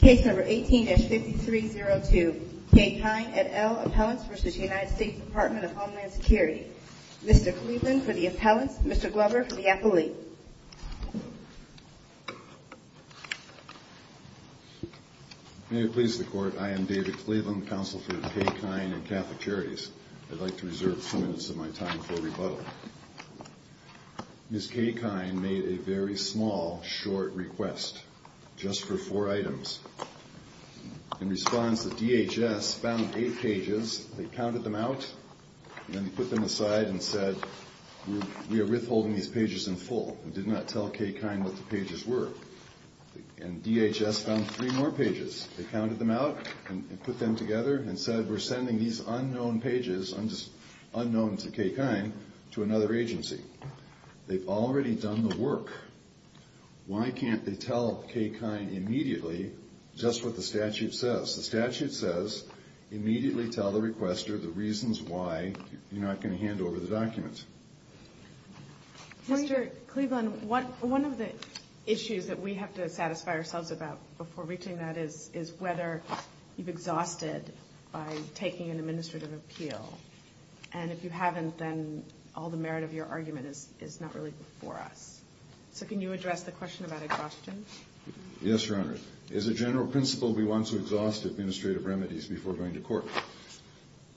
Case No. 18-5302, Kaye Khine et al. Appellants v. United States Department of Homeland Security. Mr. Cleveland for the appellants, Mr. Glover for the appellee. May it please the Court, I am David Cleveland, Counsel for Kaye Khine and Catholic Charities. I'd like to reserve some minutes of my time for rebuttal. Ms. Kaye Khine made a very small, short request, just for four items. In response, the DHS found eight pages, they counted them out, and then put them aside and said, we are withholding these pages in full. We did not tell Kaye Khine what the pages were. And DHS found three more pages. They counted them out and put them together and said, we're sending these unknown pages, unknown to Kaye Khine, to another agency. They've already done the work. Why can't they tell Kaye Khine immediately just what the statute says? The statute says immediately tell the requester the reasons why you're not going to hand over the document. Mr. Cleveland, one of the issues that we have to satisfy ourselves about before reaching that is whether you've exhausted by taking an administrative appeal. And if you haven't, then all the merit of your argument is not really before us. So can you address the question about exhaustion? Yes, Your Honor. As a general principle, we want to exhaust administrative remedies before going to court.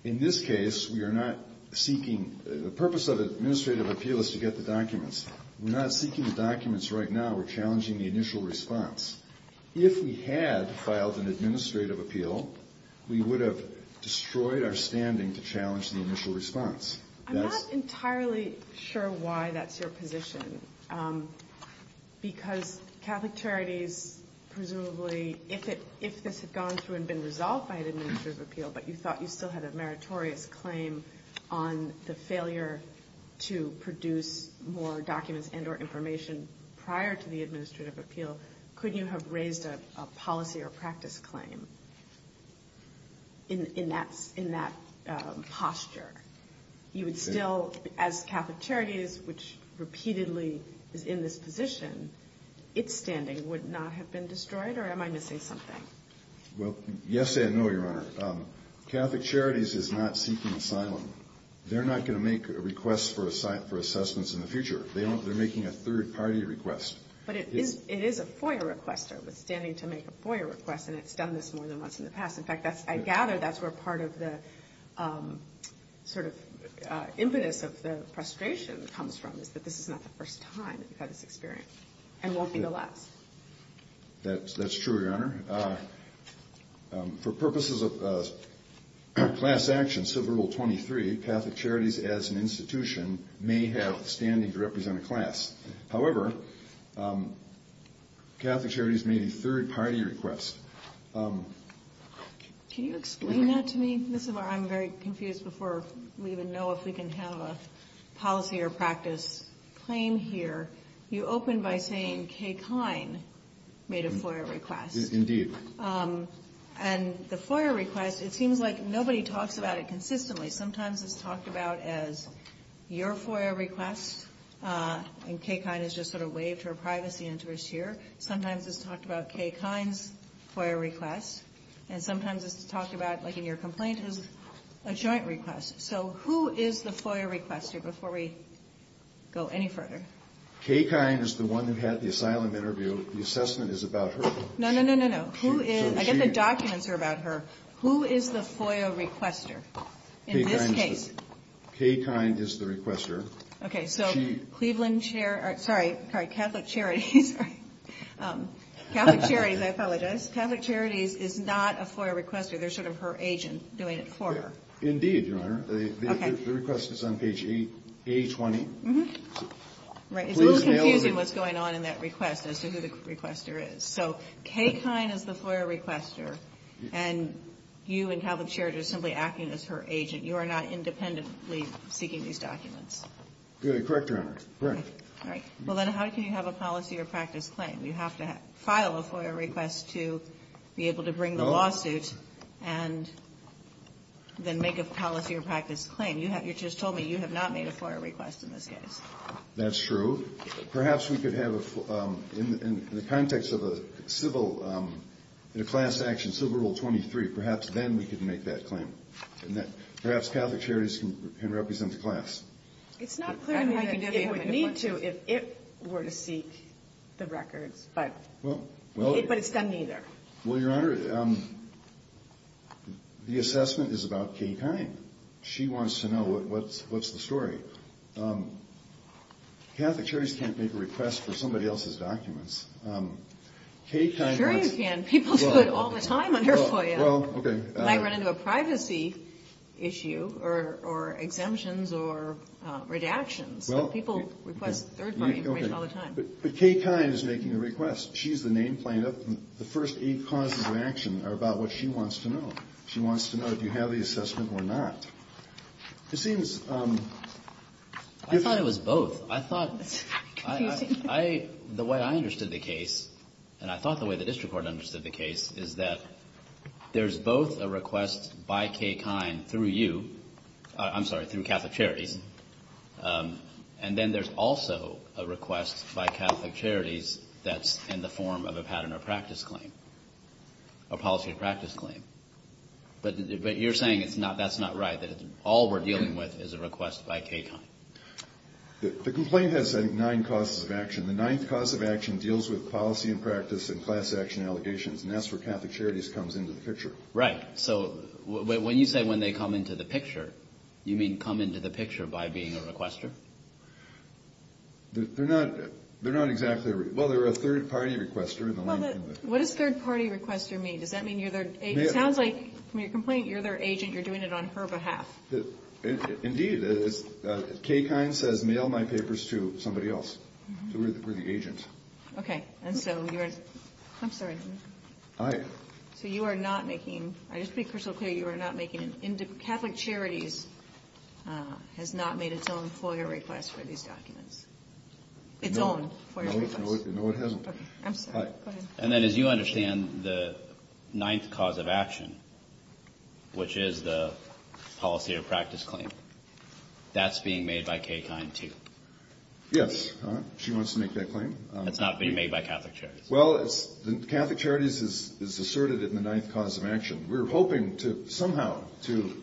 In this case, we are not seeking – the purpose of an administrative appeal is to get the documents. We're not seeking the documents right now. We're challenging the initial response. If we had filed an administrative appeal, we would have destroyed our standing to challenge the initial response. I'm not entirely sure why that's your position, because Catholic Charities presumably, if this had gone through and been resolved by an administrative appeal, but you thought you still had a meritorious claim on the failure to produce more documents and or information prior to the administrative appeal, could you have raised a policy or practice claim in that posture? You would still, as Catholic Charities, which repeatedly is in this position, its standing would not have been destroyed, or am I missing something? Well, yes and no, Your Honor. Catholic Charities is not seeking asylum. They're not going to make a request for assessments in the future. They're making a third-party request. But it is a FOIA requester withstanding to make a FOIA request, and it's done this more than once in the past. In fact, I gather that's where part of the sort of impetus of the frustration comes from, is that this is not the first time that we've had this experience and won't be the last. That's true, Your Honor. For purposes of class action, Civil Rule 23, Catholic Charities as an institution may have standing to represent a class. However, Catholic Charities made a third-party request. Can you explain that to me? This is where I'm very confused before we even know if we can have a policy or practice claim here. You opened by saying Kay Kine made a FOIA request. Indeed. And the FOIA request, it seems like nobody talks about it consistently. Sometimes it's talked about as your FOIA request, and Kay Kine has just sort of waved her privacy interest here. Sometimes it's talked about Kay Kine's FOIA request, and sometimes it's talked about, like in your complaint, as a joint request. So who is the FOIA requester, before we go any further? Kay Kine is the one who had the asylum interview. The assessment is about her. No, no, no, no, no. I get the documents are about her. Who is the FOIA requester in this case? Kay Kine is the requester. Okay, so Cleveland Charities, sorry, Catholic Charities. Catholic Charities, I apologize. Catholic Charities is not a FOIA requester. They're sort of her agent doing it for her. Indeed, Your Honor. Okay. The request is on page A20. Right. It's a little confusing what's going on in that request as to who the requester is. So Kay Kine is the FOIA requester, and you and Catholic Charities are simply acting as her agent. You are not independently seeking these documents. Correct, Your Honor. Correct. All right. Well, then how can you have a policy or practice claim? You have to file a FOIA request to be able to bring the lawsuit. And then make a policy or practice claim. You just told me you have not made a FOIA request in this case. That's true. Perhaps we could have, in the context of a civil, in a class action, Civil Rule 23, perhaps then we could make that claim. Perhaps Catholic Charities can represent the class. It's not clear to me that it would need to if it were to seek the records, but it's done neither. Well, Your Honor, the assessment is about Kay Kine. She wants to know what's the story. Catholic Charities can't make a request for somebody else's documents. Kay Kine wants... Sure you can. People do it all the time under FOIA. Well, okay. It might run into a privacy issue or exemptions or redactions. People request third party information all the time. But Kay Kine is making the request. She's the name plaintiff. The first eight causes of action are about what she wants to know. She wants to know if you have the assessment or not. It seems... I thought it was both. I thought... The way I understood the case, and I thought the way the district court understood the case, is that there's both a request by Kay Kine through you. I'm sorry, through Catholic Charities. And then there's also a request by Catholic Charities that's in the form of a pattern or practice claim, a policy or practice claim. But you're saying that's not right, that all we're dealing with is a request by Kay Kine. The complaint has, I think, nine causes of action. The ninth cause of action deals with policy and practice and class action allegations, and that's where Catholic Charities comes into the picture. Right. So when you say when they come into the picture, you mean come into the picture by being a requester? They're not exactly... Well, they're a third-party requester. What does third-party requester mean? Does that mean you're their agent? It sounds like from your complaint, you're their agent. You're doing it on her behalf. Indeed. Kay Kine says, mail my papers to somebody else. So we're the agent. Okay. And so you're... I'm sorry. Aye. So you are not making... I just want to be crystal clear. You are not making... Catholic Charities has not made its own FOIA request for these documents. Its own FOIA request. No, it hasn't. Okay. I'm sorry. Go ahead. And then as you understand, the ninth cause of action, which is the policy or practice claim, that's being made by Kay Kine, too. Yes. She wants to make that claim. That's not being made by Catholic Charities. Well, it's... Catholic Charities is asserted in the ninth cause of action. We're hoping to somehow to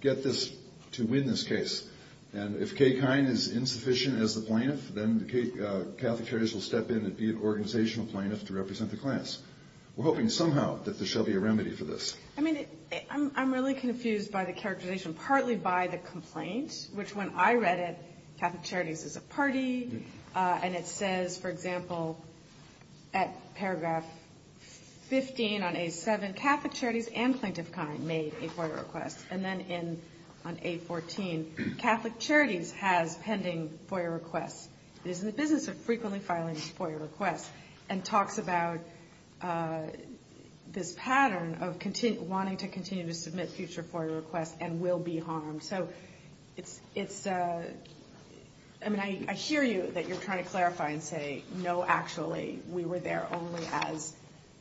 get this, to win this case. And if Kay Kine is insufficient as the plaintiff, then the Catholic Charities will step in and be an organizational plaintiff to represent the class. We're hoping somehow that there shall be a remedy for this. I mean, I'm really confused by the characterization, partly by the complaint, which when I read it, Catholic Charities is a party, and it says, for example, at paragraph 15 on A7, the Catholic Charities and Plaintiff Kine made a FOIA request. And then on A14, Catholic Charities has pending FOIA requests. It is in the business of frequently filing FOIA requests, and talks about this pattern of wanting to continue to submit future FOIA requests and will be harmed. So it's... I mean, I hear you, that you're trying to clarify and say, no, actually, we were there only as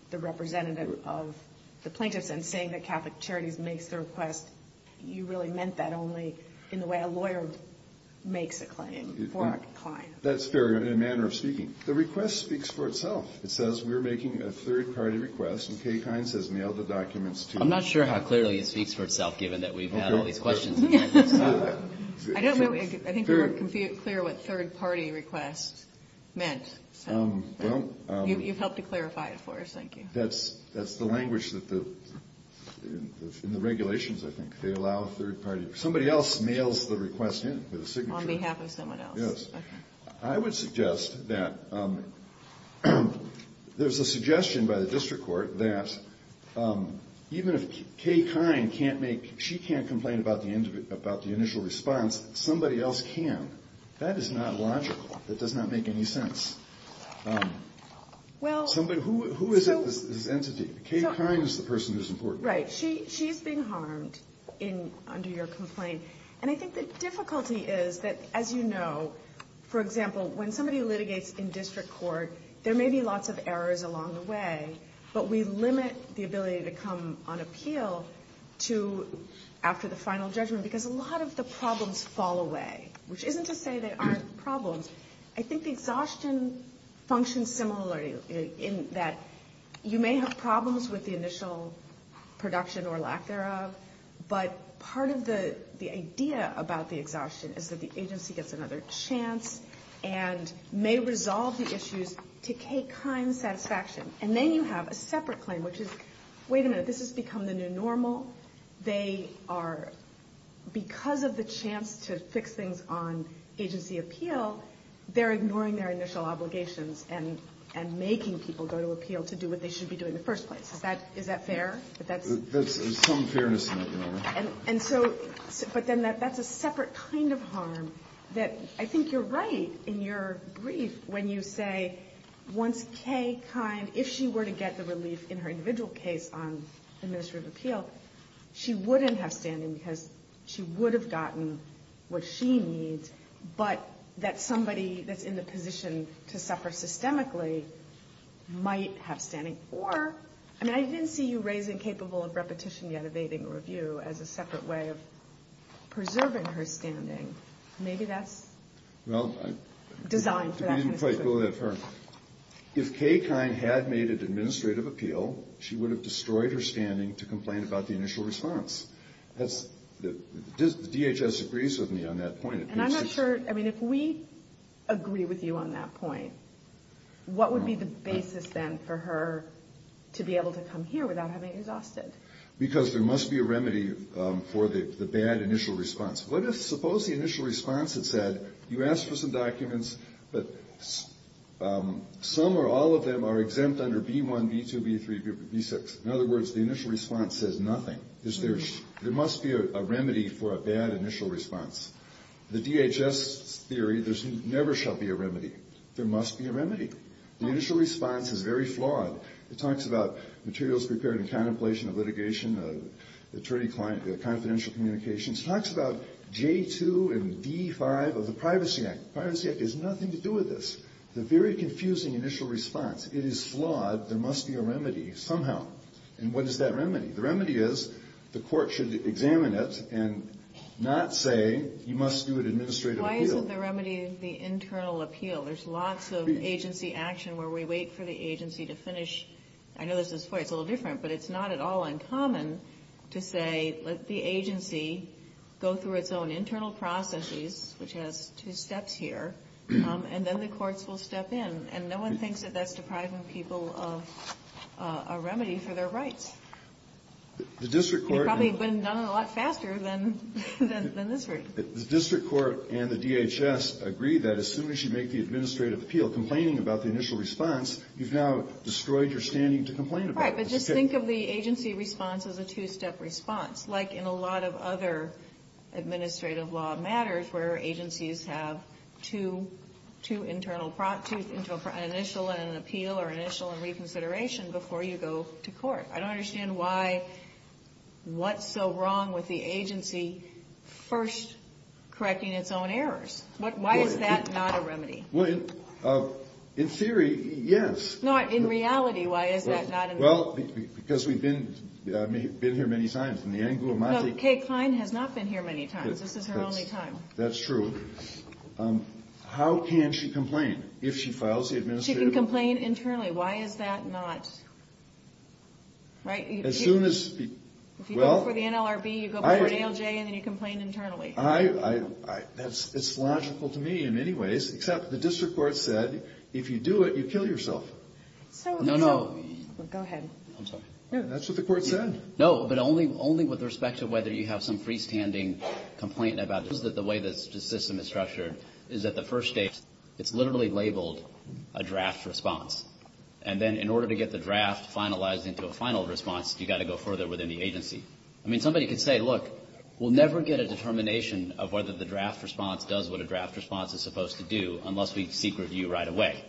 the representative of the plaintiffs. And saying that Catholic Charities makes the request, you really meant that only in the way a lawyer makes a claim for a client. That's fair in a manner of speaking. The request speaks for itself. It says, we're making a third-party request, and Kay Kine says, mail the documents to... I'm not sure how clearly it speaks for itself, given that we've had all these questions. I don't know. I think you weren't clear what third-party request meant. You've helped to clarify it for us. Thank you. That's the language in the regulations, I think. They allow a third-party... Somebody else mails the request in with a signature. On behalf of someone else. Yes. I would suggest that... There's a suggestion by the district court that even if Kay Kine can't make... She can't complain about the initial response, somebody else can. That is not logical. That does not make any sense. Who is this entity? Kay Kine is the person who's important. Right. She's being harmed under your complaint. And I think the difficulty is that, as you know, for example, when somebody litigates in district court, there may be lots of errors along the way, but we limit the ability to come on appeal after the final judgment, because a lot of the problems fall away. Which isn't to say they aren't problems. I think the exhaustion functions similarly, in that you may have problems with the initial production or lack thereof, but part of the idea about the exhaustion is that the agency gets another chance and may resolve the issues to Kay Kine's satisfaction. And then you have a separate claim, which is, wait a minute, this has become the new normal. They are, because of the chance to fix things on agency appeal, they're ignoring their initial obligations and making people go to appeal to do what they should be doing in the first place. Is that fair? There's some fairness in that. And so, but then that's a separate kind of harm that I think you're right in your brief when you say once Kay Kine, if she were to get the relief in her individual case on administrative appeal, she wouldn't have standing because she would have gotten what she needs, but that somebody that's in the position to suffer systemically might have standing. Or, I mean, I didn't see you raising capable of repetition yet evading review as a separate way of preserving her standing. If Kay Kine had made an administrative appeal, she would have destroyed her standing to complain about the initial response. DHS agrees with me on that point. And I'm not sure, I mean, if we agree with you on that point, what would be the basis then for her to be able to come here without having exhausted? Because there must be a remedy for the bad initial response. What if, suppose the initial response had said, you asked for some documents, but some or all of them are exempt under B1, B2, B3, B6. In other words, the initial response says nothing. There must be a remedy for a bad initial response. The DHS theory, there never shall be a remedy. There must be a remedy. The initial response is very flawed. It talks about materials prepared in contemplation of litigation, attorney-client confidential communications. It talks about J2 and D5 of the Privacy Act. The Privacy Act has nothing to do with this. It's a very confusing initial response. It is flawed. There must be a remedy somehow. And what is that remedy? The remedy is the court should examine it and not say you must do an administrative appeal. Why isn't the remedy the internal appeal? There's lots of agency action where we wait for the agency to finish. I know this is funny. It's a little different. But it's not at all uncommon to say let the agency go through its own internal processes, which has two steps here, and then the courts will step in. And no one thinks that that's depriving people of a remedy for their rights. They've probably been done a lot faster than this Court. The district court and the DHS agree that as soon as you make the administrative appeal complaining about the initial response, you've now destroyed your standing to complain about it. All right. But just think of the agency response as a two-step response, like in a lot of other administrative law matters where agencies have two initial and an appeal or initial and reconsideration before you go to court. I don't understand why what's so wrong with the agency first correcting its own errors. Why is that not a remedy? No, in reality, why is that not a remedy? Well, because we've been here many times. No, Kay Cline has not been here many times. This is her only time. That's true. How can she complain if she files the administrative appeal? She can complain internally. Why is that not? As soon as you go for the NLRB, you go for an ALJ, and then you complain internally. It's logical to me in many ways, except the district court said if you do it, you kill yourself. No, no. Go ahead. I'm sorry. That's what the court said. No, but only with respect to whether you have some freestanding complaint about the way the system is structured is that the first date, it's literally labeled a draft response. And then in order to get the draft finalized into a final response, you've got to go further within the agency. I mean, somebody could say, look, we'll never get a determination of whether the draft response does what a draft response is supposed to do unless we seek review right away.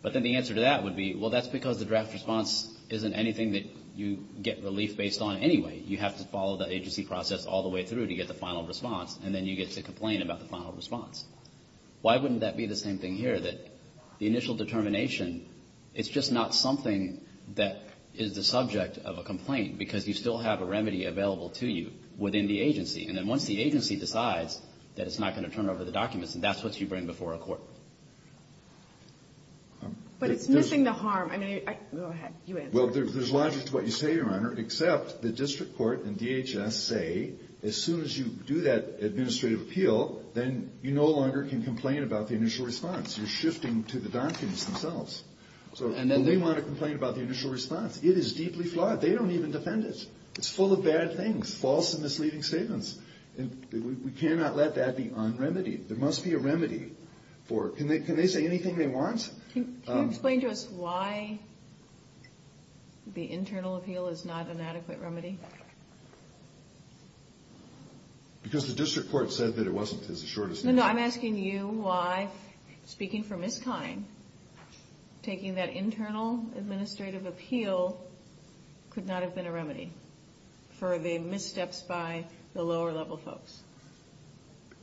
But then the answer to that would be, well, that's because the draft response isn't anything that you get relief based on anyway. You have to follow the agency process all the way through to get the final response, and then you get to complain about the final response. Why wouldn't that be the same thing here, that the initial determination, it's just not something that is the subject of a complaint because you still have a remedy available to you within the agency. And then once the agency decides that it's not going to turn over the documents, that's what you bring before a court. But it's missing the harm. I mean, I go ahead. You answer. Well, there's logic to what you say, Your Honor, except the district court and DHS say as soon as you do that administrative appeal, then you no longer can complain about the initial response. You're shifting to the documents themselves. So we want to complain about the initial response. It is deeply flawed. They don't even defend it. It's full of bad things, false and misleading statements. And we cannot let that be un-remedied. There must be a remedy for it. Can they say anything they want? Can you explain to us why the internal appeal is not an adequate remedy? Because the district court said that it wasn't, is the shortest answer. No, no. I'm asking you why, speaking for Ms. Kine, taking that internal administrative appeal could not have been a remedy for the missteps by the lower-level folks.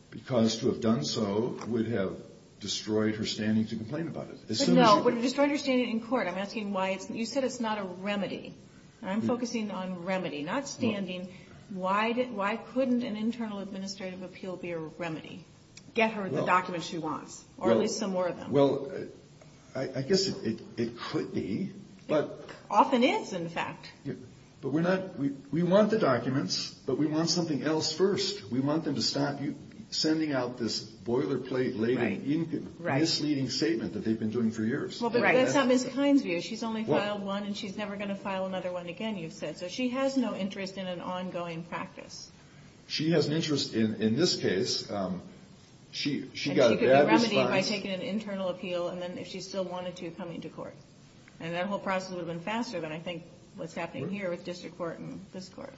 Because to have done so would have destroyed her standing to complain about it. But no, it would have destroyed her standing in court. I'm asking why. You said it's not a remedy. I'm focusing on remedy, not standing. Why couldn't an internal administrative appeal be a remedy, get her the documents she wants, or at least some more of them? Well, I guess it could be. It often is, in fact. But we want the documents, but we want something else first. We want them to stop you sending out this boilerplate-laden, misleading statement that they've been doing for years. But that's not Ms. Kine's view. She's only filed one, and she's never going to file another one again, you've said. So she has no interest in an ongoing practice. She has an interest in this case. And she could be remedied by taking an internal appeal, and then if she still wanted to, coming to court. And that whole process would have been faster than I think what's happening here with district court and this court.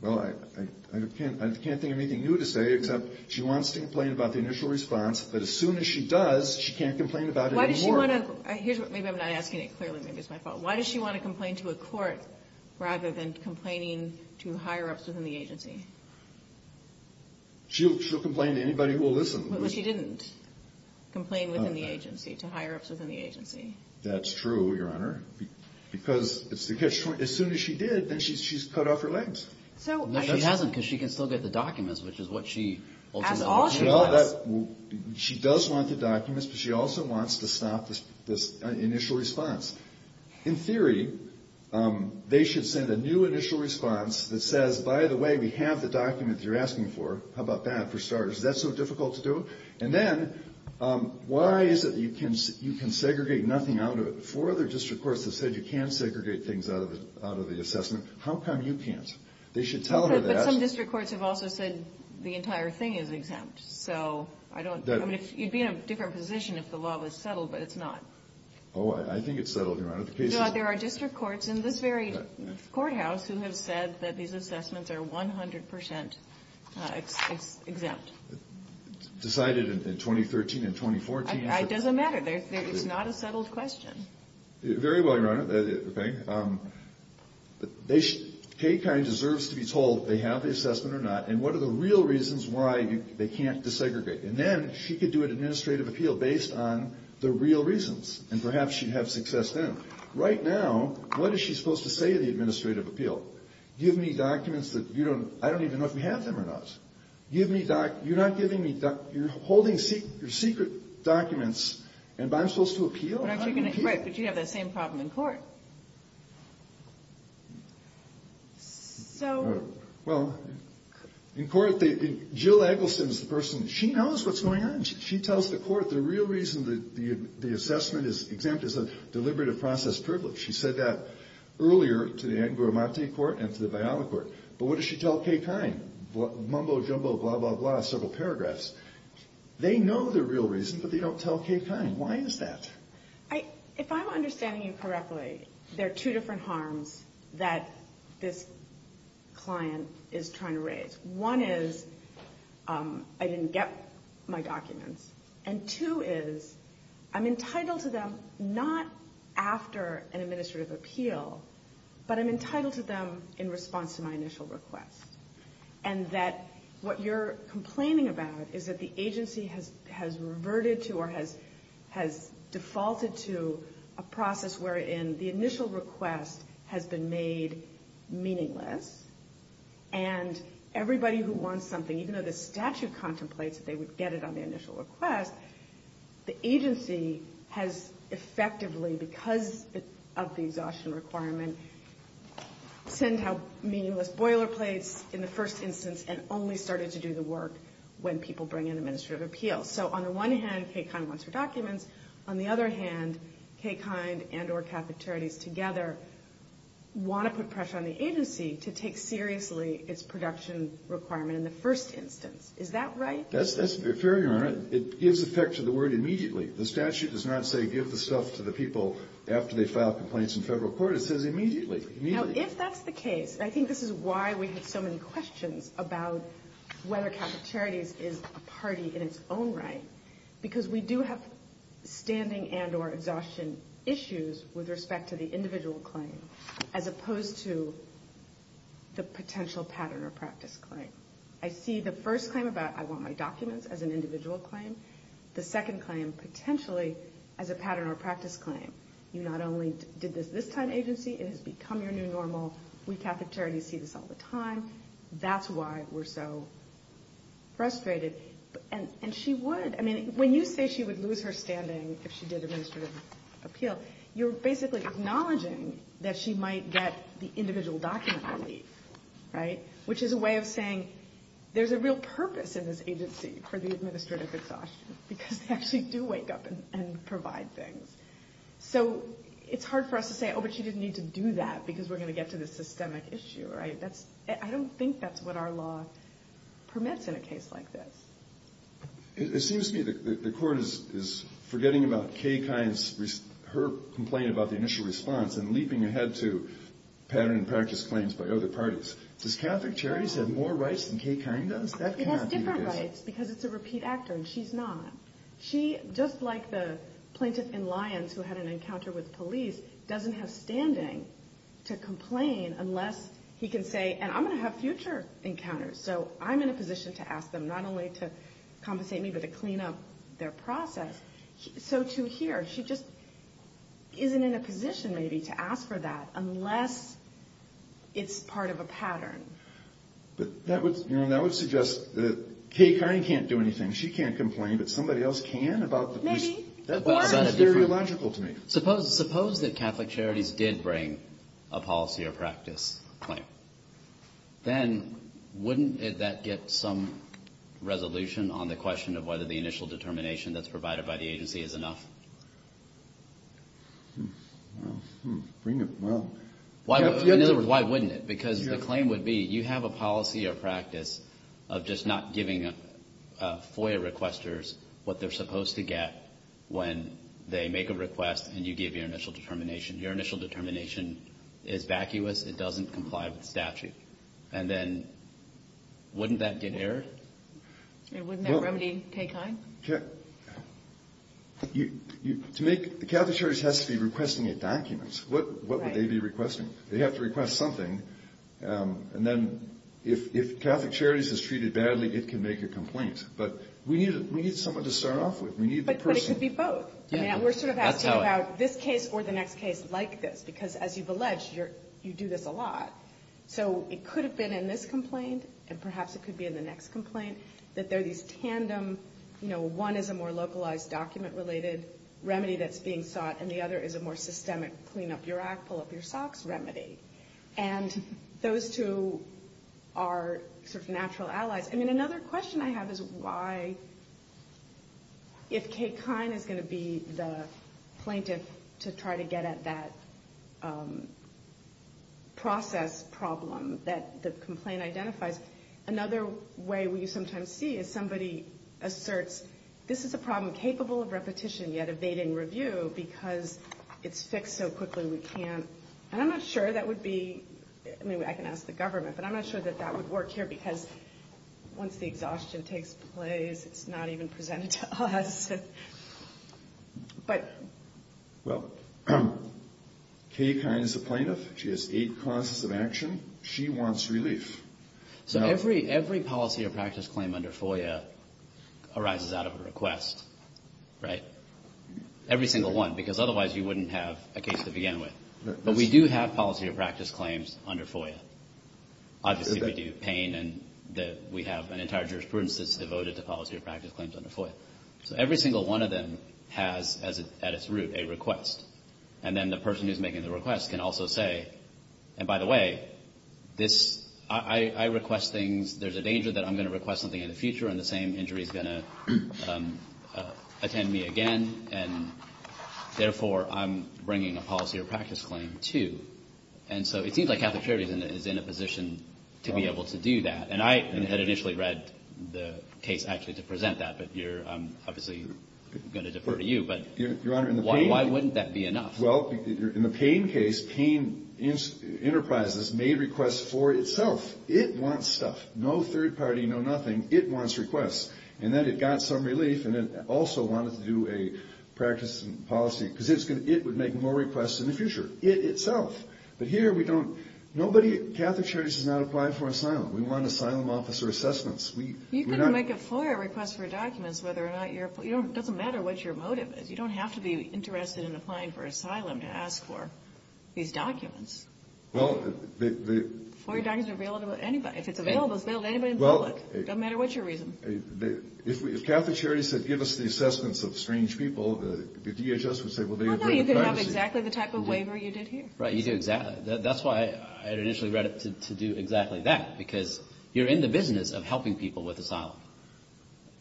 Well, I can't think of anything new to say, except she wants to complain about the initial response. But as soon as she does, she can't complain about it anymore. Why does she want to? Maybe I'm not asking it clearly. Maybe it's my fault. Why does she want to complain to a court rather than complaining to higher-ups within the agency? She'll complain to anybody who will listen. But she didn't complain within the agency, to higher-ups within the agency. That's true, Your Honor. Because as soon as she did, then she's cut off her legs. No, she hasn't, because she can still get the documents, which is what she ultimately wants. As all she wants. She does want the documents, but she also wants to stop this initial response. In theory, they should send a new initial response that says, by the way, we have the document that you're asking for. How about that, for starters? Is that so difficult to do? And then, why is it that you can segregate nothing out of it? Four other district courts have said you can segregate things out of the assessment. How come you can't? They should tell her that. But some district courts have also said the entire thing is exempt. So I don't know. You'd be in a different position if the law was settled, but it's not. Oh, I think it's settled, Your Honor. There are district courts in this very courthouse who have said that these assessments are 100 percent exempt. Decided in 2013 and 2014? It doesn't matter. It's not a settled question. Very well, Your Honor. Okay. Kaye kind of deserves to be told if they have the assessment or not and what are the real reasons why they can't desegregate. And then she could do an administrative appeal based on the real reasons, and perhaps she'd have success then. Right now, what is she supposed to say to the administrative appeal? Give me documents that you don't – I don't even know if we have them or not. Give me – you're not giving me – you're holding secret documents, and I'm supposed to appeal? Right, but you have that same problem in court. So – Well, in court, Jill Eggleston is the person – she knows what's going on. She tells the court the real reason the assessment is exempt is a deliberative process privilege. She said that earlier to the Angorimate Court and to the Viola Court. But what does she tell Kaye kind? Mumbo-jumbo, blah, blah, blah, several paragraphs. They know the real reason, but they don't tell Kaye kind. Why is that? If I'm understanding you correctly, there are two different harms that this client is trying to raise. One is I didn't get my documents. And two is I'm entitled to them not after an administrative appeal, but I'm entitled to them in response to my initial request. And that what you're complaining about is that the agency has reverted to or has defaulted to a process wherein the initial request has been made meaningless and everybody who wants something, even though the statute contemplates that they would get it on the initial request, the agency has effectively, because of the exhaustion requirement, sent out meaningless boilerplates in the first instance and only started to do the work when people bring in administrative appeals. So on the one hand, Kaye kind wants her documents. On the other hand, Kaye kind and or cafeterias together want to put pressure on the agency to take seriously its production requirement in the first instance. Is that right? That's fair, Your Honor. It gives effect to the word immediately. The statute does not say give the stuff to the people after they file complaints in federal court. It says immediately. Now, if that's the case, I think this is why we have so many questions about whether cafeterias is a party in its own right, because we do have standing and or exhaustion issues with respect to the individual claim as opposed to the potential pattern or practice claim. I see the first claim about I want my documents as an individual claim. The second claim potentially as a pattern or practice claim. You not only did this this time agency, it has become your new normal. We cafeterias see this all the time. That's why we're so frustrated. And she would. I mean, when you say she would lose her standing if she did administrative appeal, you're basically acknowledging that she might get the individual document relief, right? Which is a way of saying there's a real purpose in this agency for the administrative exhaustion, because they actually do wake up and provide things. So it's hard for us to say, oh, but she didn't need to do that because we're going to get to the systemic issue, right? That's, I don't think that's what our law permits in a case like this. It seems to me that the court is, is forgetting about Kay Kines, her complaint about the initial response and leaping ahead to pattern and practice claims by other parties. Does Catholic charities have more rights than Kay Kine does? It has different rights because it's a repeat actor and she's not. She, just like the plaintiff in Lyons who had an encounter with police doesn't have standing to complain unless he can say, and I'm going to have future encounters. So I'm in a position to ask them not only to compensate me, but to clean up their process. So to hear, she just isn't in a position maybe to ask for that unless it's part of a pattern. But that would, you know, that would suggest that Kay Kine can't do anything. She can't complain, but somebody else can about that. That's very illogical to me. Suppose, suppose that Catholic charities did bring a policy or practice claim, then wouldn't that get some resolution on the question of whether the initial determination that's provided by the agency is enough. Well, in other words, why wouldn't it? Because the claim would be you have a policy or practice of just not giving FOIA requesters what they're supposed to get when they make a request and you give your initial determination. Your initial determination is vacuous. It doesn't comply with statute. And then wouldn't that get errored? And wouldn't that remedy Kay Kine? Kay, you, you, to make, the Catholic church has to be requesting a document. What, what would they be requesting? They have to request something. Um, and then if, if Catholic charities is treated badly, it can make a complaint, but we need, we need someone to start off with. We need the person. It could be both. We're sort of asking about this case or the next case like this, because as you've alleged, you're, you do this a lot. So it could have been in this complaint and perhaps it could be in the next complaint that there are these tandem, you know, one is a more localized document related remedy that's being sought. And the other is a more systemic clean up your act, pull up your socks remedy. And those two are sort of natural allies. I mean, another question I have is why, if Kay Kine is going to be the plaintiff to try to get at that, um, process problem that the complaint identifies. Another way we sometimes see is somebody asserts, this is a problem capable of repetition yet evading review because it's fixed so quickly. We can't, and I'm not sure that would be, I mean, I can ask the government, but I'm not sure that that would work here because once the exhaustion takes place, it's not even presented to us. But. Well, Kay Kine is a plaintiff. She has eight causes of action. She wants relief. So every, every policy or practice claim under FOIA arises out of a request, right? Every single one, because otherwise you wouldn't have a case to begin with, but we do have policy or practice claims under FOIA. Obviously, we do pain and that we have an entire jurisprudence that's devoted to policy or practice claims under FOIA. So every single one of them has at its root, a request. And then the person who's making the request can also say, and by the way, this, I request things. There's a danger that I'm going to request something in the future. And the same injury is going to attend me again. And therefore I'm bringing a policy or practice claim too. And so it seems like Catholic Charities is in a position to be able to do that. And I had initially read the case actually to present that, but you're obviously going to defer to you, but why wouldn't that be enough? Well, in the pain case, pain enterprises made requests for itself. It wants stuff, no third party, no nothing. It wants requests. And then it got some relief. And then also wanted to do a practice and policy, because it would make more requests in the future, it itself. But here we don't, nobody, Catholic Charities has not applied for asylum. We want asylum officer assessments. You can make a FOIA request for documents, whether or not you're, it doesn't matter what your motive is. You don't have to be interested in applying for asylum to ask for these documents. Well, FOIA documents are available to anybody. If it's available, it's available to anybody in public. It doesn't matter what your reason. If Catholic Charities said, give us the assessments of strange people, the DHS would say, well, they agree with privacy. Well, no, you can have exactly the type of waiver you did here. Right, you do exactly. That's why I had initially read it to do exactly that, because you're in the business of helping people with asylum.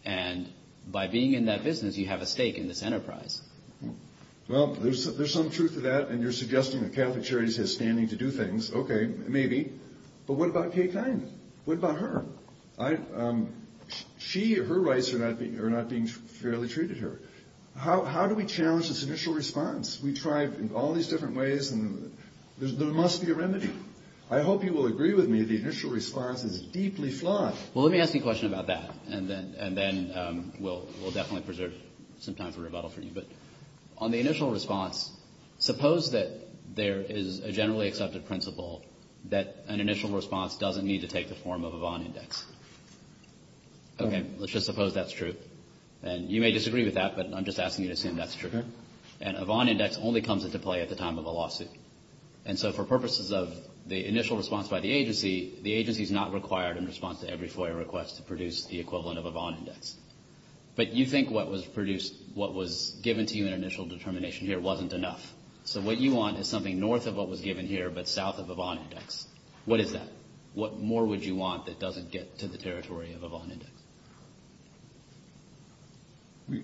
And by being in that business, you have a stake in this enterprise. Well, there's some truth to that. And you're suggesting that Catholic Charities has standing to do things. Okay, maybe. But what about Kay Kine? What about her? She or her rights are not being fairly treated here. How do we challenge this initial response? We tried all these different ways, and there must be a remedy. I hope you will agree with me, the initial response is deeply flawed. Well, let me ask you a question about that, and then we'll definitely preserve some time for rebuttal from you. But on the initial response, suppose that there is a generally accepted principle that an initial response doesn't need to take the form of a Vaughan Index. Okay, let's just suppose that's true. And you may disagree with that, but I'm just asking you to assume that's true. And a Vaughan Index only comes into play at the time of a lawsuit. And so for purposes of the initial response by the agency, the agency is not required in response to every FOIA request to produce the equivalent of a Vaughan Index. But you think what was produced, what was given to you in initial determination here wasn't enough. So what you want is something north of what was given here, but south of a Vaughan Index. What is that? What more would you want that doesn't get to the territory of a Vaughan Index?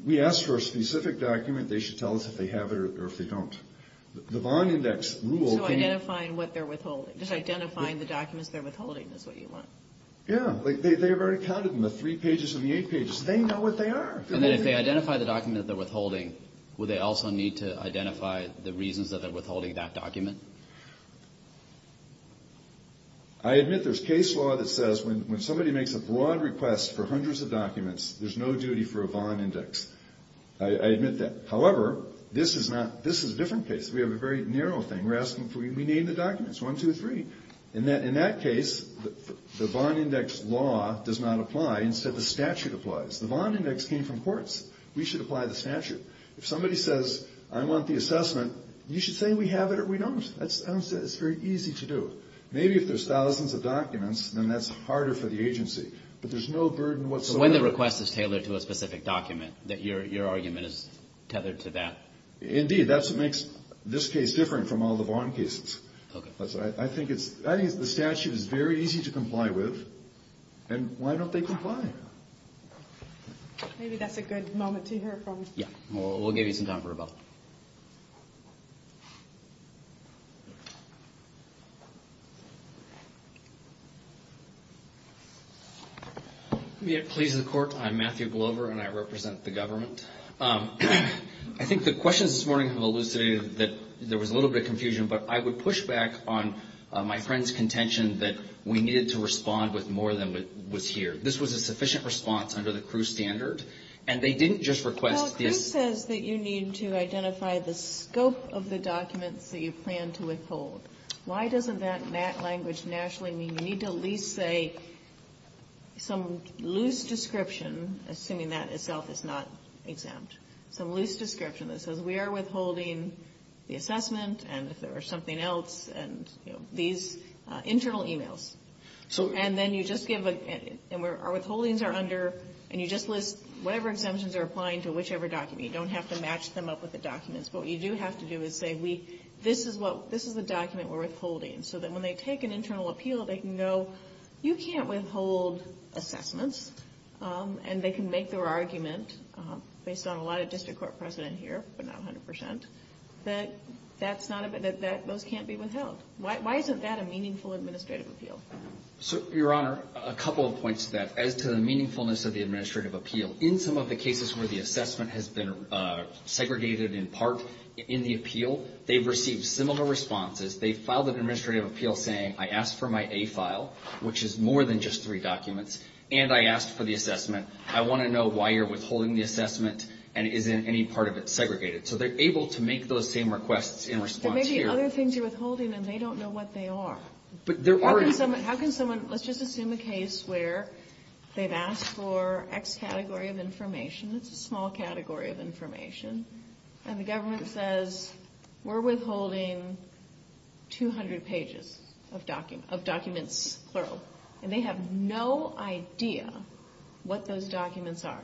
We ask for a specific document. They should tell us if they have it or if they don't. The Vaughan Index rule can be... So identifying what they're withholding. Just identifying the documents they're withholding is what you want. Yeah. They've already counted them, the three pages and the eight pages. They know what they are. And then if they identify the document that they're withholding, would they also need to identify the reasons that they're withholding that document? I admit there's case law that says when somebody makes a broad request for hundreds of documents, there's no duty for a Vaughan Index. I admit that. However, this is a different case. We have a very narrow thing. We're asking for... We need the documents. One, two, three. In that case, the Vaughan Index law does not apply. Instead, the statute applies. The Vaughan Index came from courts. We should apply the statute. If somebody says, I want the assessment, you should say we have it or we don't. It's very easy to do. Maybe if there's thousands of documents, then that's harder for the agency. But there's no burden whatsoever. When the request is tailored to a specific document, your argument is tethered to that? Indeed. That's what makes this case different from all the Vaughan cases. Okay. I think the statute is very easy to comply with. And why don't they comply? Maybe that's a good moment to hear from... Yeah. We'll give you some time for rebuttal. Please, the court. I'm Matthew Glover, and I represent the government. I think the questions this morning have elucidated that there was a little bit of confusion, but I would push back on my friend's contention that we needed to respond with more than was here. This was a sufficient response under the CRU standard, and they didn't just request this. This says that you need to identify the scope of the documents that you plan to withhold. Why doesn't that language nationally mean you need to at least say some loose description, assuming that itself is not exempt, some loose description that says we are withholding the assessment and, if there were something else, and, you know, these internal e-mails. And then you just give a... And our withholdings are under... And you just list whatever exemptions are applying to whichever document. You don't have to match them up with the documents. But what you do have to do is say, this is the document we're withholding, so that when they take an internal appeal, they can go, you can't withhold assessments. And they can make their argument, based on a lot of district court precedent here, but not 100%, that those can't be withheld. Why isn't that a meaningful administrative appeal? So, Your Honor, a couple of points to that. As to the meaningfulness of the administrative appeal, in some of the cases where the assessment has been segregated in part in the appeal, they've received similar responses. They've filed an administrative appeal saying, I asked for my A file, which is more than just three documents, and I asked for the assessment. I want to know why you're withholding the assessment and isn't any part of it segregated. So they're able to make those same requests in response here. There may be other things you're withholding, and they don't know what they are. How can someone, let's just assume a case where they've asked for X category of information. It's a small category of information. And the government says, we're withholding 200 pages of documents, plural. And they have no idea what those documents are.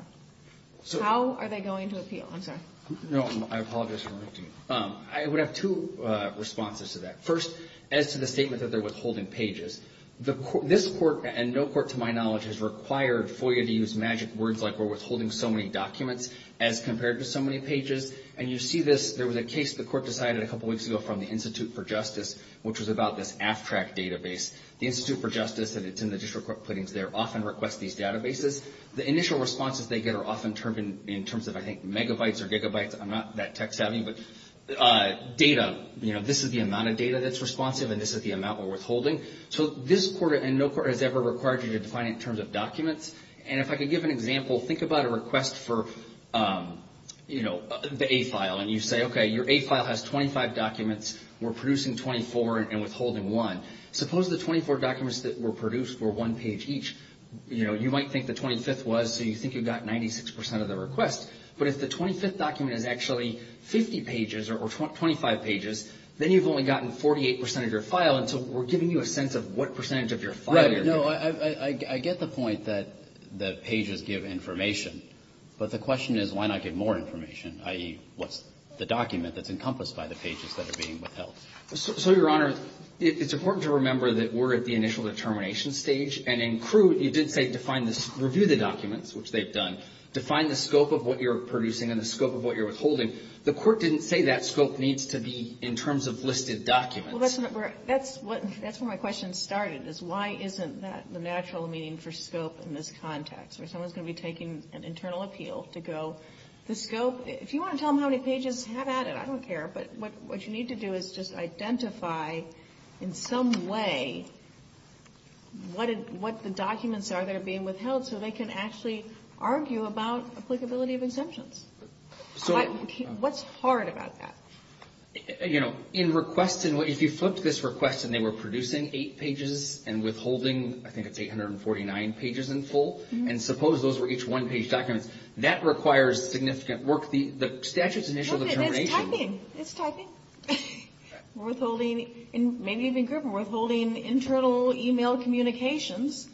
How are they going to appeal? I'm sorry. No, I apologize for interrupting. I would have two responses to that. First, as to the statement that they're withholding pages. This court, and no court to my knowledge, has required FOIA to use magic words like we're withholding so many documents, as compared to so many pages. And you see this. There was a case the court decided a couple weeks ago from the Institute for Justice, which was about this AFTRAC database. The Institute for Justice, and it's in the district court puttings there, often requests these databases. The initial responses they get are often termed in terms of, I think, megabytes or gigabytes. I'm not that tech savvy. Data. This is the amount of data that's responsive, and this is the amount we're withholding. So this court and no court has ever required you to define it in terms of documents. And if I could give an example, think about a request for the A file. And you say, okay, your A file has 25 documents. We're producing 24 and withholding one. Suppose the 24 documents that were produced were one page each. You might think the 25th was, so you think you've got 96% of the request. But if the 25th document is actually 50 pages or 25 pages, then you've only gotten 48% of your file. And so we're giving you a sense of what percentage of your file you're getting. Right. No, I get the point that the pages give information. But the question is, why not give more information, i.e., what's the document that's encompassed by the pages that are being withheld? So, Your Honor, it's important to remember that we're at the initial determination stage. And in CRU, it did say define this, review the documents, which they've done, define the scope of what you're producing and the scope of what you're withholding. The court didn't say that scope needs to be in terms of listed documents. Well, that's where my question started, is why isn't that the natural meaning for scope in this context, where someone's going to be taking an internal appeal to go the scope. If you want to tell them how many pages have added, I don't care. But what you need to do is just identify in some way what the documents are that are being withheld so they can actually argue about applicability of exemptions. What's hard about that? You know, in request, if you flipped this request and they were producing eight pages and withholding, I think it's 849 pages in full, and suppose those were each one-page documents, that requires significant work. The statute's initial determination. It's typing. It's typing. Withholding, maybe even group, withholding internal email communications.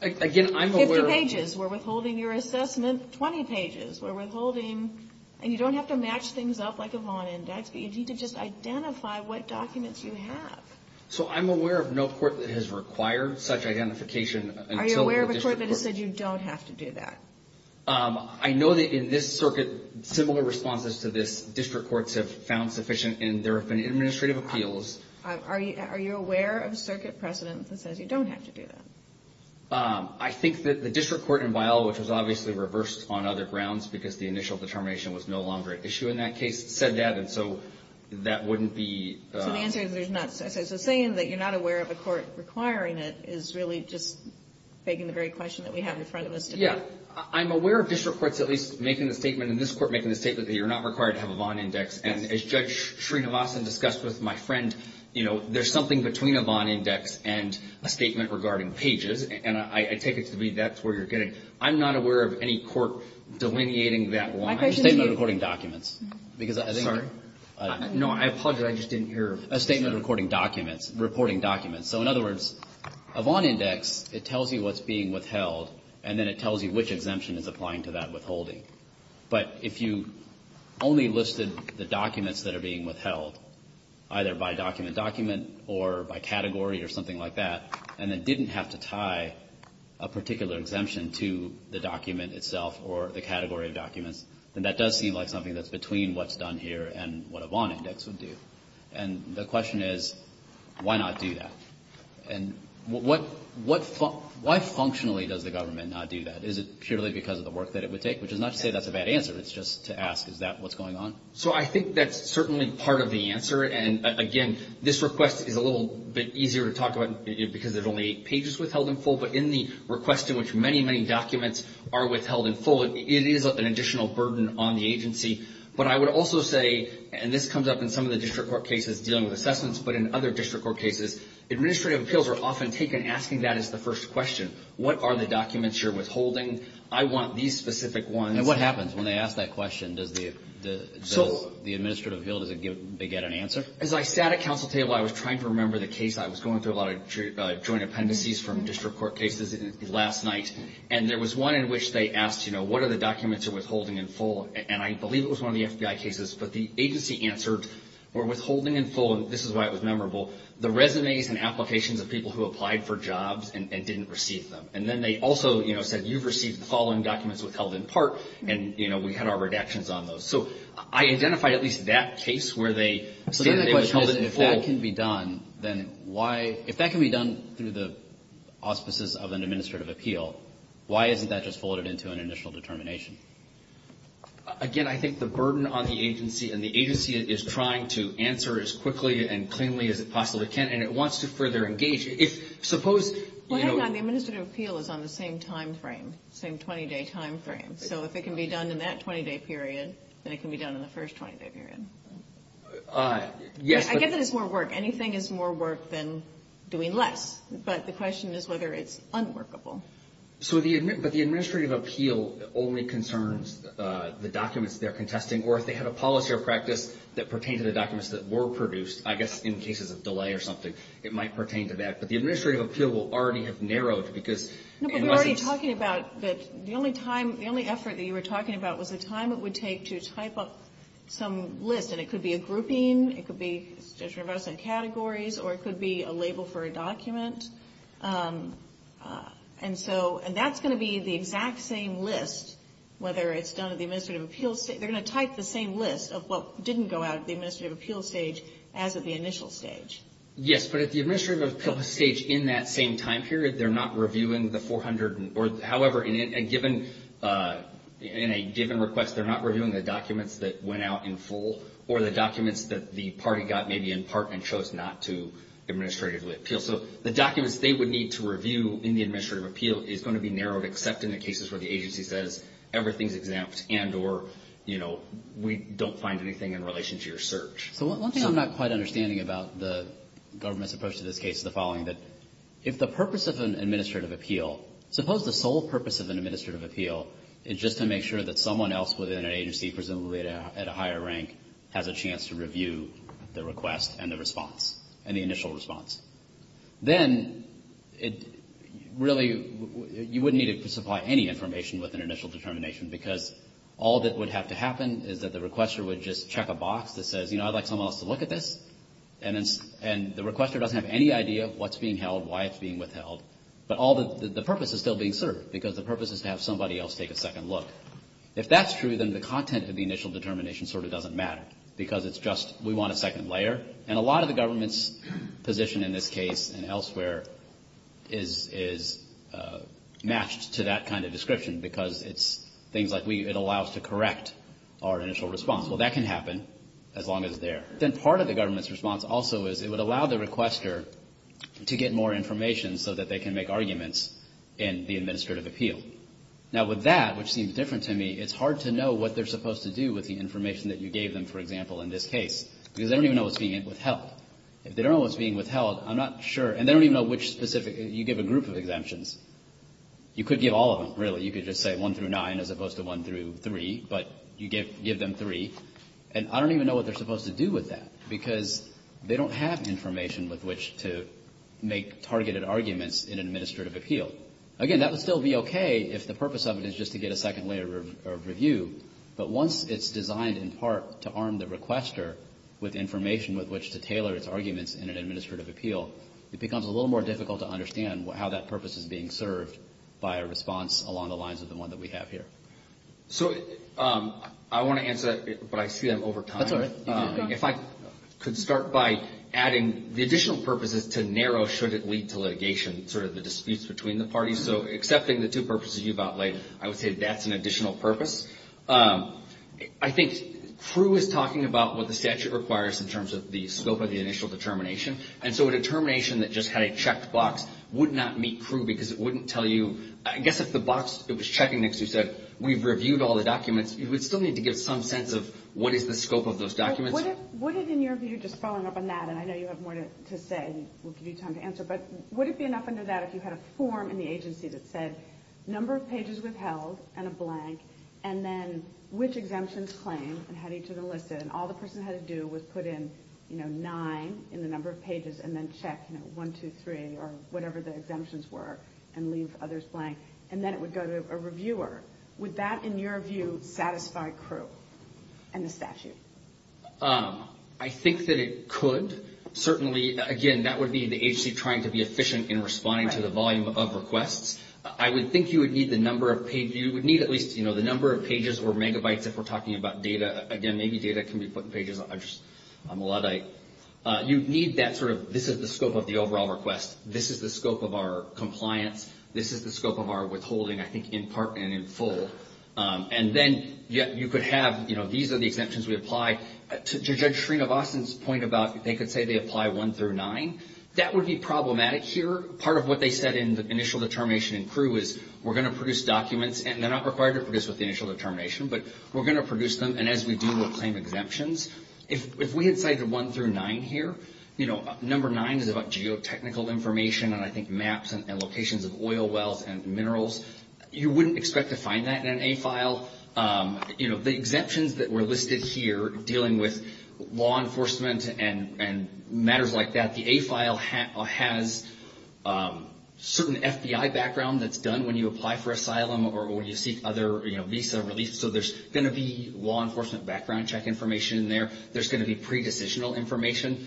Again, I'm aware of 50 pages, we're withholding your assessment. 20 pages, we're withholding. And you don't have to match things up like a Vaughan index, but you need to just identify what documents you have. So I'm aware of no court that has required such identification until the district court Are you aware of a court that has said you don't have to do that? I know that in this circuit, similar responses to this, district courts have found sufficient and there have been administrative appeals. Are you aware of a circuit precedent that says you don't have to do that? I think that the district court in Biola, which was obviously reversed on other grounds because the initial determination was no longer at issue in that case, said that. And so that wouldn't be So the answer is there's not. So saying that you're not aware of a court requiring it is really just faking the very question that we have in front of us today. Yeah. I'm aware of district courts at least making the statement, in this court making the statement that you're not required to have a Vaughan index. And as Judge Srinivasan discussed with my friend, you know, there's something between a Vaughan index and a statement regarding pages. And I take it to be that's where you're getting. I'm not aware of any court delineating that one. A statement of recording documents. Sorry? No, I apologize. I just didn't hear. A statement of recording documents, reporting documents. So in other words, a Vaughan index, it tells you what's being withheld and then it tells you which exemption is applying to that withholding. But if you only listed the documents that are being withheld, either by document document or by category or something like that, and then didn't have to tie a particular exemption to the document itself or the category of documents, then that does seem like something that's between what's done here and what a Vaughan index would do. And the question is, why not do that? And what – why functionally does the government not do that? Is it purely because of the work that it would take? Which is not to say that's a bad answer. It's just to ask, is that what's going on? So I think that's certainly part of the answer. And, again, this request is a little bit easier to talk about because there's only eight pages withheld in full. But in the request in which many, many documents are withheld in full, it is an additional burden on the agency. But I would also say, and this comes up in some of the district court cases dealing with assessments, but in other district court cases, administrative appeals are often taken asking that as the first question. What are the documents you're withholding? I want these specific ones. And what happens when they ask that question? Does the administrative appeal, does it give – they get an answer? As I sat at counsel table, I was trying to remember the case. I was going through a lot of joint appendices from district court cases last night. And there was one in which they asked, you know, what are the documents you're withholding in full? And I believe it was one of the FBI cases. So the resumes and applications of people who applied for jobs and didn't receive them. And then they also, you know, said, you've received the following documents withheld in part, and, you know, we had our redactions on those. So I identified at least that case where they said they withheld it in full. So then the question is, if that can be done, then why – if that can be done through the auspices of an administrative appeal, why isn't that just folded into an initial determination? Again, I think the burden on the agency, and the agency is trying to answer as quickly and cleanly as it possibly can, and it wants to further engage. Suppose – Well, hang on. The administrative appeal is on the same timeframe, same 20-day timeframe. So if it can be done in that 20-day period, then it can be done in the first 20-day period. Yes, but – I get that it's more work. Anything is more work than doing less. But the question is whether it's unworkable. So the – but the administrative appeal only concerns the documents they're contesting, or if they have a policy or practice that pertains to the documents that were produced, I guess in cases of delay or something, it might pertain to that. But the administrative appeal will already have narrowed because it wasn't – No, but we were already talking about that the only time – the only effort that you were talking about was the time it would take to type up some list, and it could be a grouping, it could be just reversing categories, or it could be a label for a document. And so – and that's going to be the exact same list, whether it's done at the administrative appeal – they're going to type the same list of what didn't go out at the administrative appeal stage as at the initial stage. Yes, but at the administrative appeal stage in that same time period, they're not reviewing the 400 – or, however, in a given – in a given request, they're not reviewing the documents that went out in full or the documents that the party got maybe in part and chose not to administratively appeal. So the documents they would need to review in the administrative appeal is going to be narrowed, except in the cases where the agency says everything's exempt and or, you know, we don't find anything in relation to your search. So one thing I'm not quite understanding about the government's approach to this case is the following, that if the purpose of an administrative appeal – suppose the sole purpose of an administrative appeal is just to make sure that someone else within an agency, presumably at a higher rank, has a chance to review the request and the response, and the initial response. Then it really – you wouldn't need to supply any information with an initial determination because all that would have to happen is that the requester would just check a box that says, you know, I'd like someone else to look at this, and the requester doesn't have any idea of what's being held, why it's being withheld. But all the purpose is still being served because the purpose is to have somebody else take a second look. If that's true, then the content of the initial determination sort of doesn't matter because it's just we want a second layer. And a lot of the government's position in this case and elsewhere is matched to that kind of description because it's things like it allows to correct our initial response. Well, that can happen as long as it's there. Then part of the government's response also is it would allow the requester to get more information so that they can make arguments in the administrative appeal. Now with that, which seems different to me, it's hard to know what they're supposed to do with the information that you gave them, for example, in this case because they don't even know what's being withheld. If they don't know what's being withheld, I'm not sure and they don't even know which specific, you give a group of exemptions. You could give all of them, really. You could just say 1 through 9 as opposed to 1 through 3, but you give them 3. And I don't even know what they're supposed to do with that because they don't have information with which to make targeted arguments in an administrative appeal. Again, that would still be okay if the purpose of it is just to get a second layer of review. But once it's designed in part to arm the requester with information with which to tailor its arguments in an administrative appeal, it becomes a little more difficult to understand how that purpose is being served by a response along the lines of the one that we have here. So I want to answer that, but I see that I'm over time. That's all right. If I could start by adding the additional purposes to narrow should it lead to litigation, sort of the disputes between the parties. So accepting the two purposes you've outlined, I would say that's an additional purpose. I think CREW is talking about what the statute requires in terms of the scope of the initial determination. And so a determination that just had a checked box would not meet CREW because it wouldn't tell you. I guess if the box it was checking next to said we've reviewed all the documents, you would still need to give some sense of what is the scope of those documents. Would it, in your view, just following up on that, and I know you have more to say and we'll give you time to answer, but would it be enough under that if you had a form in the agency that said number of pages withheld and a blank and then which exemptions claimed and had each of them listed and all the person had to do was put in nine in the number of pages and then check one, two, three or whatever the exemptions were and leave others blank. And then it would go to a reviewer. Would that, in your view, satisfy CREW and the statute? I think that it could. Certainly, again, that would be the agency trying to be efficient in responding to the volume of requests. I would think you would need the number of pages. You would need at least, you know, the number of pages or megabytes if we're talking about data. Again, maybe data can be put in pages. I'm a Luddite. You need that sort of this is the scope of the overall request. This is the scope of our compliance. This is the scope of our withholding, I think, in part and in full. And then you could have, you know, these are the exemptions we apply. To Judge Srinivasan's point about they could say they apply one through nine, that would be problematic here. Part of what they said in the initial determination in CREW is we're going to produce documents and they're not required to produce with the initial determination, but we're going to produce them. And as we do, we'll claim exemptions. If we had cited one through nine here, you know, number nine is about geotechnical information and I think maps and locations of oil wells and minerals. You wouldn't expect to find that in an A file. You know, the exemptions that were listed here dealing with law enforcement and matters like that, the A file has certain FBI background that's done when you apply for asylum or when you seek other, you know, visa relief. So there's going to be law enforcement background check information in there. There's going to be pre-decisional information.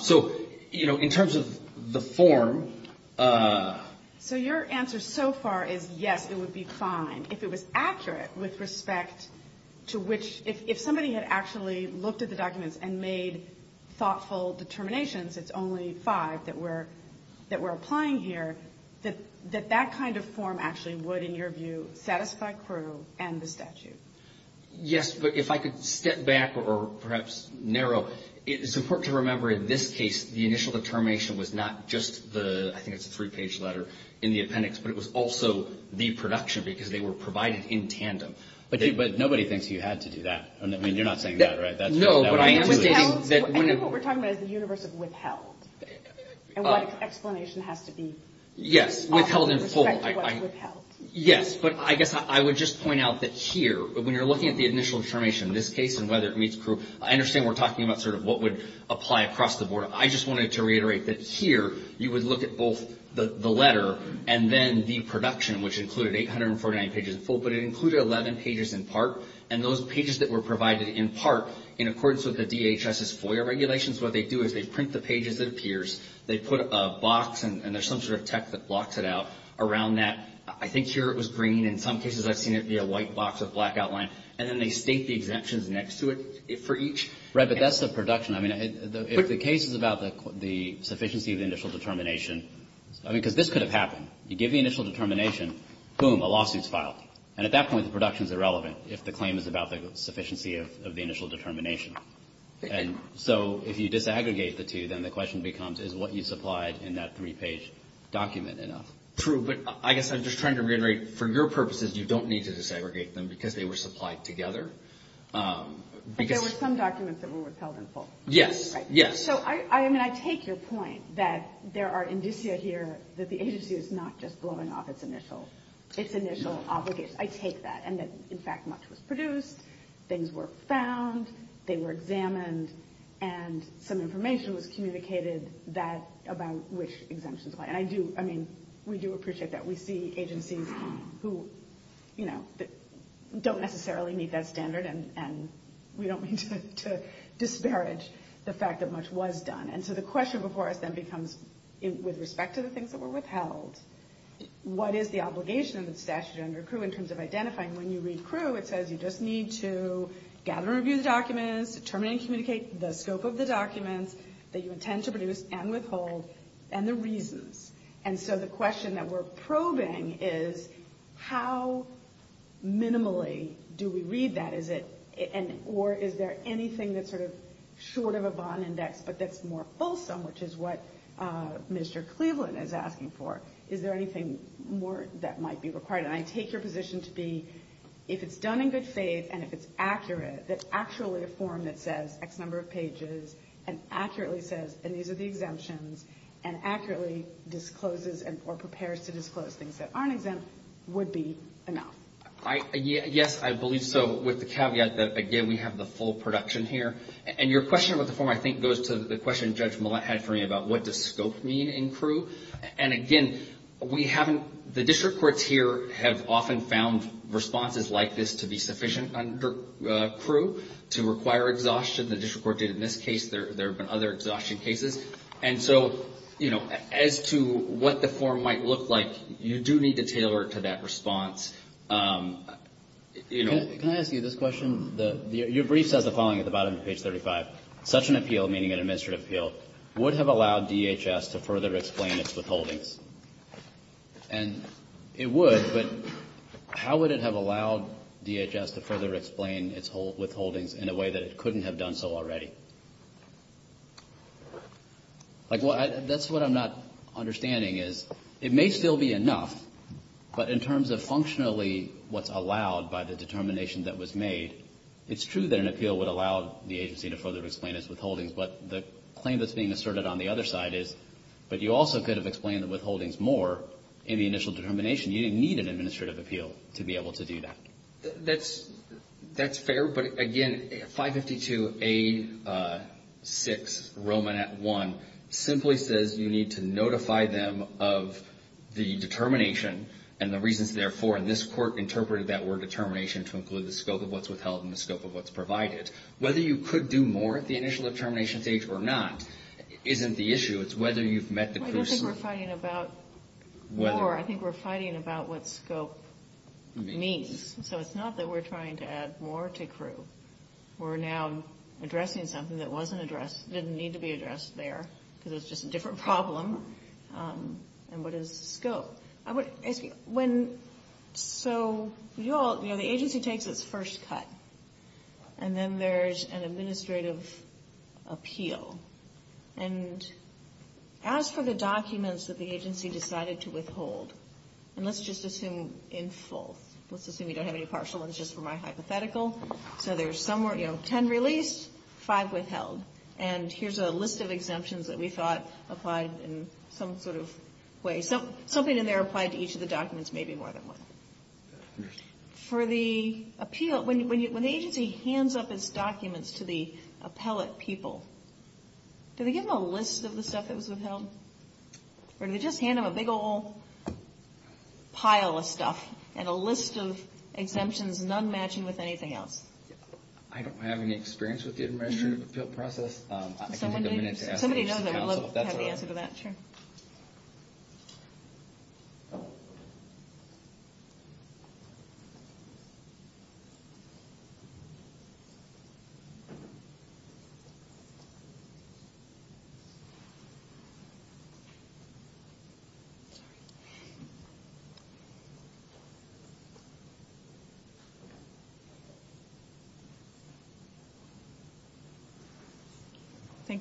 So, you know, in terms of the form. So your answer so far is yes, it would be fine. If it was accurate with respect to which, if somebody had actually looked at the documents and made thoughtful determinations, it's only five that we're applying here, that that kind of form actually would, in your view, satisfy CREW and the statute. Yes, but if I could step back or perhaps narrow, it's important to remember in this case, the initial determination was not just the, I think it's a three-page letter in the appendix, but it was also the production because they were provided in tandem. But nobody thinks you had to do that. I mean, you're not saying that, right? No, but I am stating that when it. I think what we're talking about is the universe of withheld and what explanation has to be. Yes, withheld in full. With respect to what's withheld. Yes, but I guess I would just point out that here, when you're looking at the initial determination in this case and whether it meets CREW, I understand we're talking about sort of what would apply across the board. I just wanted to reiterate that here you would look at both the letter and then the production, which included 849 pages in full, but it included 11 pages in part. And those pages that were provided in part, in accordance with the DHS's FOIA regulations, what they do is they print the pages that appears. They put a box, and there's some sort of tech that blocks it out, around that. I think here it was green. In some cases I've seen it be a white box with a black outline. And then they state the exemptions next to it for each. Right, but that's the production. I mean, if the case is about the sufficiency of the initial determination, I mean, because this could have happened. You give the initial determination, boom, a lawsuit's filed. And at that point, the production's irrelevant if the claim is about the sufficiency of the initial determination. And so if you disaggregate the two, then the question becomes, is what you supplied in that three-page document enough? True, but I guess I'm just trying to reiterate, for your purposes you don't need to disaggregate them because they were supplied together. But there were some documents that were withheld in full. Yes, yes. So, I mean, I take your point that there are indicia here that the agency is not just blowing off its initial obligations. I take that. And that, in fact, much was produced, things were found, they were examined, and some information was communicated about which exemptions apply. And I do, I mean, we do appreciate that. We see agencies who, you know, don't necessarily meet that standard, and we don't mean to disparage the fact that much was done. And so the question before us then becomes, with respect to the things that were withheld, what is the obligation of the statute under CRU in terms of identifying? When you read CRU, it says you just need to gather and review the documents, determine and communicate the scope of the documents that you intend to produce and withhold, and the reasons. And so the question that we're probing is, how minimally do we read that? Or is there anything that's sort of short of a bond index but that's more fulsome, which is what Mr. Cleveland is asking for? Is there anything more that might be required? And I take your position to be, if it's done in good faith and if it's accurate, that actually a form that says X number of pages and accurately says, and these are the exemptions, and accurately discloses or prepares to disclose things that aren't exempt would be enough. Yes, I believe so, with the caveat that, again, we have the full production here. And your question about the form, I think, goes to the question Judge Millett had for me about what does scope mean in CRU. And, again, we haven't, the district courts here have often found responses like this to be sufficient under CRU to require exhaustion. The district court did in this case. There have been other exhaustion cases. And so, you know, as to what the form might look like, you do need to tailor it to that response. You know. Can I ask you this question? Your brief says the following at the bottom of page 35. Such an appeal, meaning an administrative appeal, would have allowed DHS to further explain its withholdings. And it would, but how would it have allowed DHS to further explain its withholdings in a way that it couldn't have done so already? Like, that's what I'm not understanding is it may still be enough, but in terms of functionally what's allowed by the determination that was made, it's true that an appeal would allow the agency to further explain its withholdings. But the claim that's being asserted on the other side is, but you also could have explained the withholdings more in the initial determination. You didn't need an administrative appeal to be able to do that. That's fair. But, again, 552A6, Romanet 1, simply says you need to notify them of the determination and the reasons therefore. And this court interpreted that word determination to include the scope of what's withheld and the scope of what's provided. Whether you could do more at the initial determination stage or not isn't the issue. It's whether you've met the crew's... I don't think we're fighting about whether. Or I think we're fighting about what scope means. So it's not that we're trying to add more to crew. We're now addressing something that wasn't addressed, didn't need to be addressed there, because it's just a different problem. And what is scope? So the agency takes its first cut. And then there's an administrative appeal. And as for the documents that the agency decided to withhold, and let's just assume in full. Let's assume you don't have any partial ones just for my hypothetical. So there's 10 released, 5 withheld. And here's a list of exemptions that we thought applied in some sort of way. Something in there applied to each of the documents maybe more than one. For the appeal, when the agency hands up its documents to the appellate people, do they give them a list of the stuff that was withheld? Or do they just hand them a big old pile of stuff and a list of exemptions, none matching with anything else? I don't have any experience with the administrative appeal process. Somebody knows, I would love to have the answer to that. I'm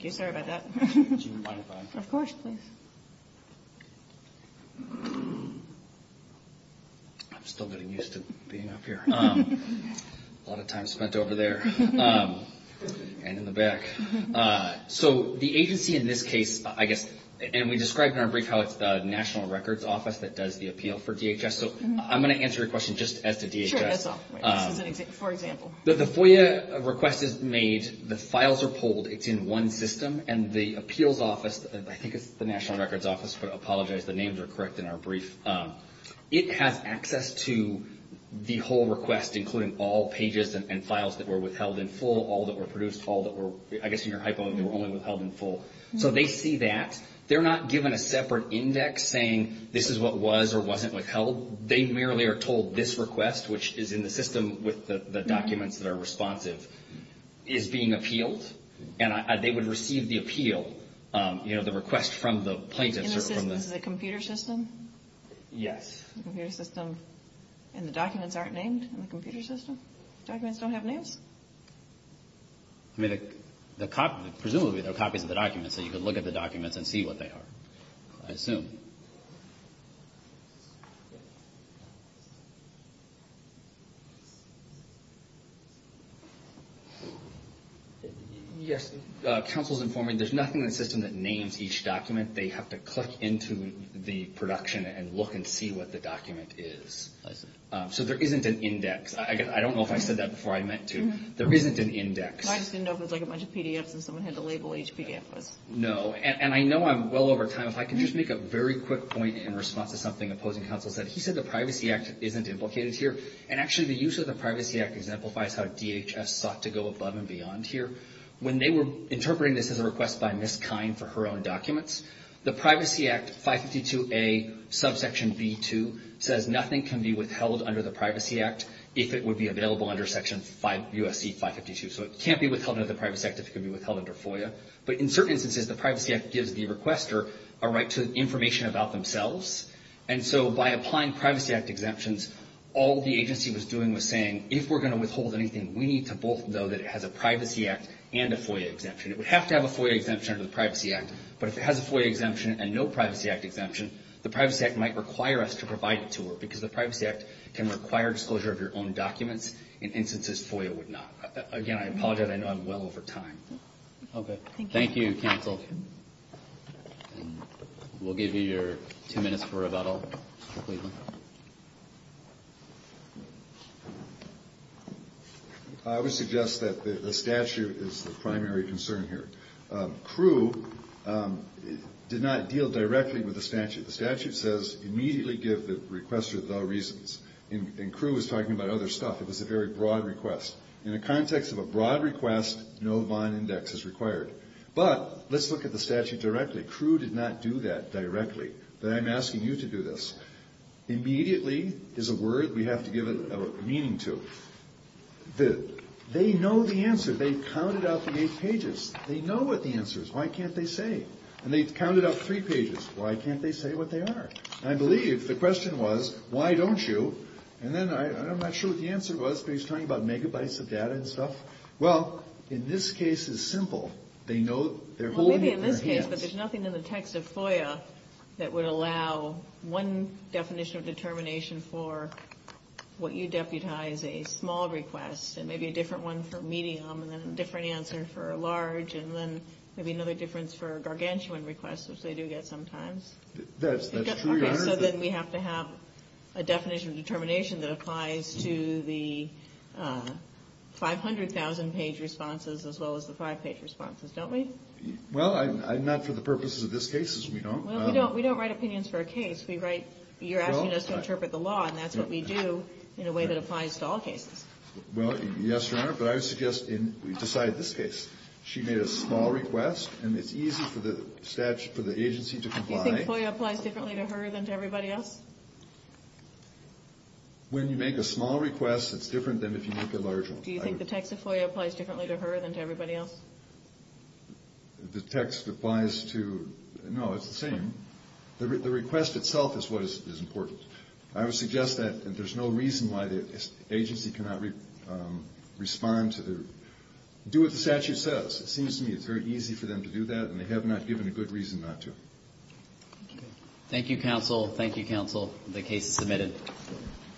still getting used to being up here. A lot of time spent over there. And in the back. So the agency in this case, I guess, and we described in our brief how it's the National Records Office that does the appeal for DHS. So I'm going to answer your question just as to DHS. For example. The FOIA request is made. The files are pulled. It's in one system. And the appeals office, I think it's the National Records Office, but I apologize. The names are correct in our brief. It has access to the whole request, including all pages and files that were withheld in full. All that were produced. All that were, I guess in your hypo, they were only withheld in full. So they see that. They're not given a separate index saying this is what was or wasn't withheld. They merely are told this request, which is in the system with the documents that are responsive, is being appealed. And they would receive the appeal, you know, the request from the plaintiff. In the system. The computer system? Yes. The computer system. And the documents aren't named in the computer system? Documents don't have names? I mean, presumably they're copies of the documents. So you could look at the documents and see what they are, I assume. Yes. Counsel is informing me there's nothing in the system that names each document. They have to click into the production and look and see what the document is. So there isn't an index. I don't know if I said that before I meant to. There isn't an index. I just didn't know if it was like a bunch of PDFs and someone had to label each PDF. No. And I know I'm well over time. If I could just make a very quick point in response to something opposing counsel said. He said the Privacy Act isn't implicated here. And actually the use of the Privacy Act exemplifies how DHS sought to go above and beyond here. When they were interpreting this as a request by Ms. Kine for her own documents, the Privacy Act 552A subsection B2 says nothing can be withheld under the Privacy Act if it would be available under section USC 552. So it can't be withheld under the Privacy Act if it could be withheld under FOIA. But in certain instances, the Privacy Act gives the requester a right to information about themselves. And so by applying Privacy Act exemptions, all the agency was doing was saying, if we're going to withhold anything, we need to both know that it has a Privacy Act and a FOIA exemption. It would have to have a FOIA exemption under the Privacy Act. But if it has a FOIA exemption and no Privacy Act exemption, the Privacy Act might require us to provide it to her because the Privacy Act can require disclosure of your own documents in instances FOIA would not. Again, I apologize. I know I'm well over time. Okay. Thank you, counsel. We'll give you your two minutes for rebuttal. I would suggest that the statute is the primary concern here. CRU did not deal directly with the statute. The statute says immediately give the requester the reasons. And CRU was talking about other stuff. It was a very broad request. In the context of a broad request, no bond index is required. But let's look at the statute directly. CRU did not do that directly. But I'm asking you to do this. Immediately is a word we have to give it a meaning to. They know the answer. They counted out the eight pages. They know what the answer is. Why can't they say? And they counted out three pages. Why can't they say what they are? I believe the question was, why don't you? And then I'm not sure what the answer was, but he's talking about megabytes of data and stuff. Well, in this case, it's simple. They know they're holding it in their hands. Well, maybe in this case, but there's nothing in the text of FOIA that would allow one definition of determination for what you deputize a small request and maybe a different one for medium and then a different answer for a large and then maybe another difference for gargantuan requests, which they do get sometimes. That's true, Your Honor. So then we have to have a definition of determination that applies to the 500,000-page responses as well as the five-page responses, don't we? Well, not for the purposes of this case, as we don't. Well, we don't write opinions for a case. You're asking us to interpret the law, and that's what we do in a way that applies to all cases. Well, yes, Your Honor. But I would suggest in deciding this case, she made a small request, and it's easy for the agency to comply. Do you think FOIA applies differently to her than to everybody else? When you make a small request, it's different than if you make a large one. Do you think the text of FOIA applies differently to her than to everybody else? The text applies to – no, it's the same. The request itself is what is important. I would suggest that there's no reason why the agency cannot respond to the – do what the statute says. It seems to me it's very easy for them to do that, and they have not given a good reason not to. Thank you. Thank you, counsel. Thank you, counsel. The case is submitted.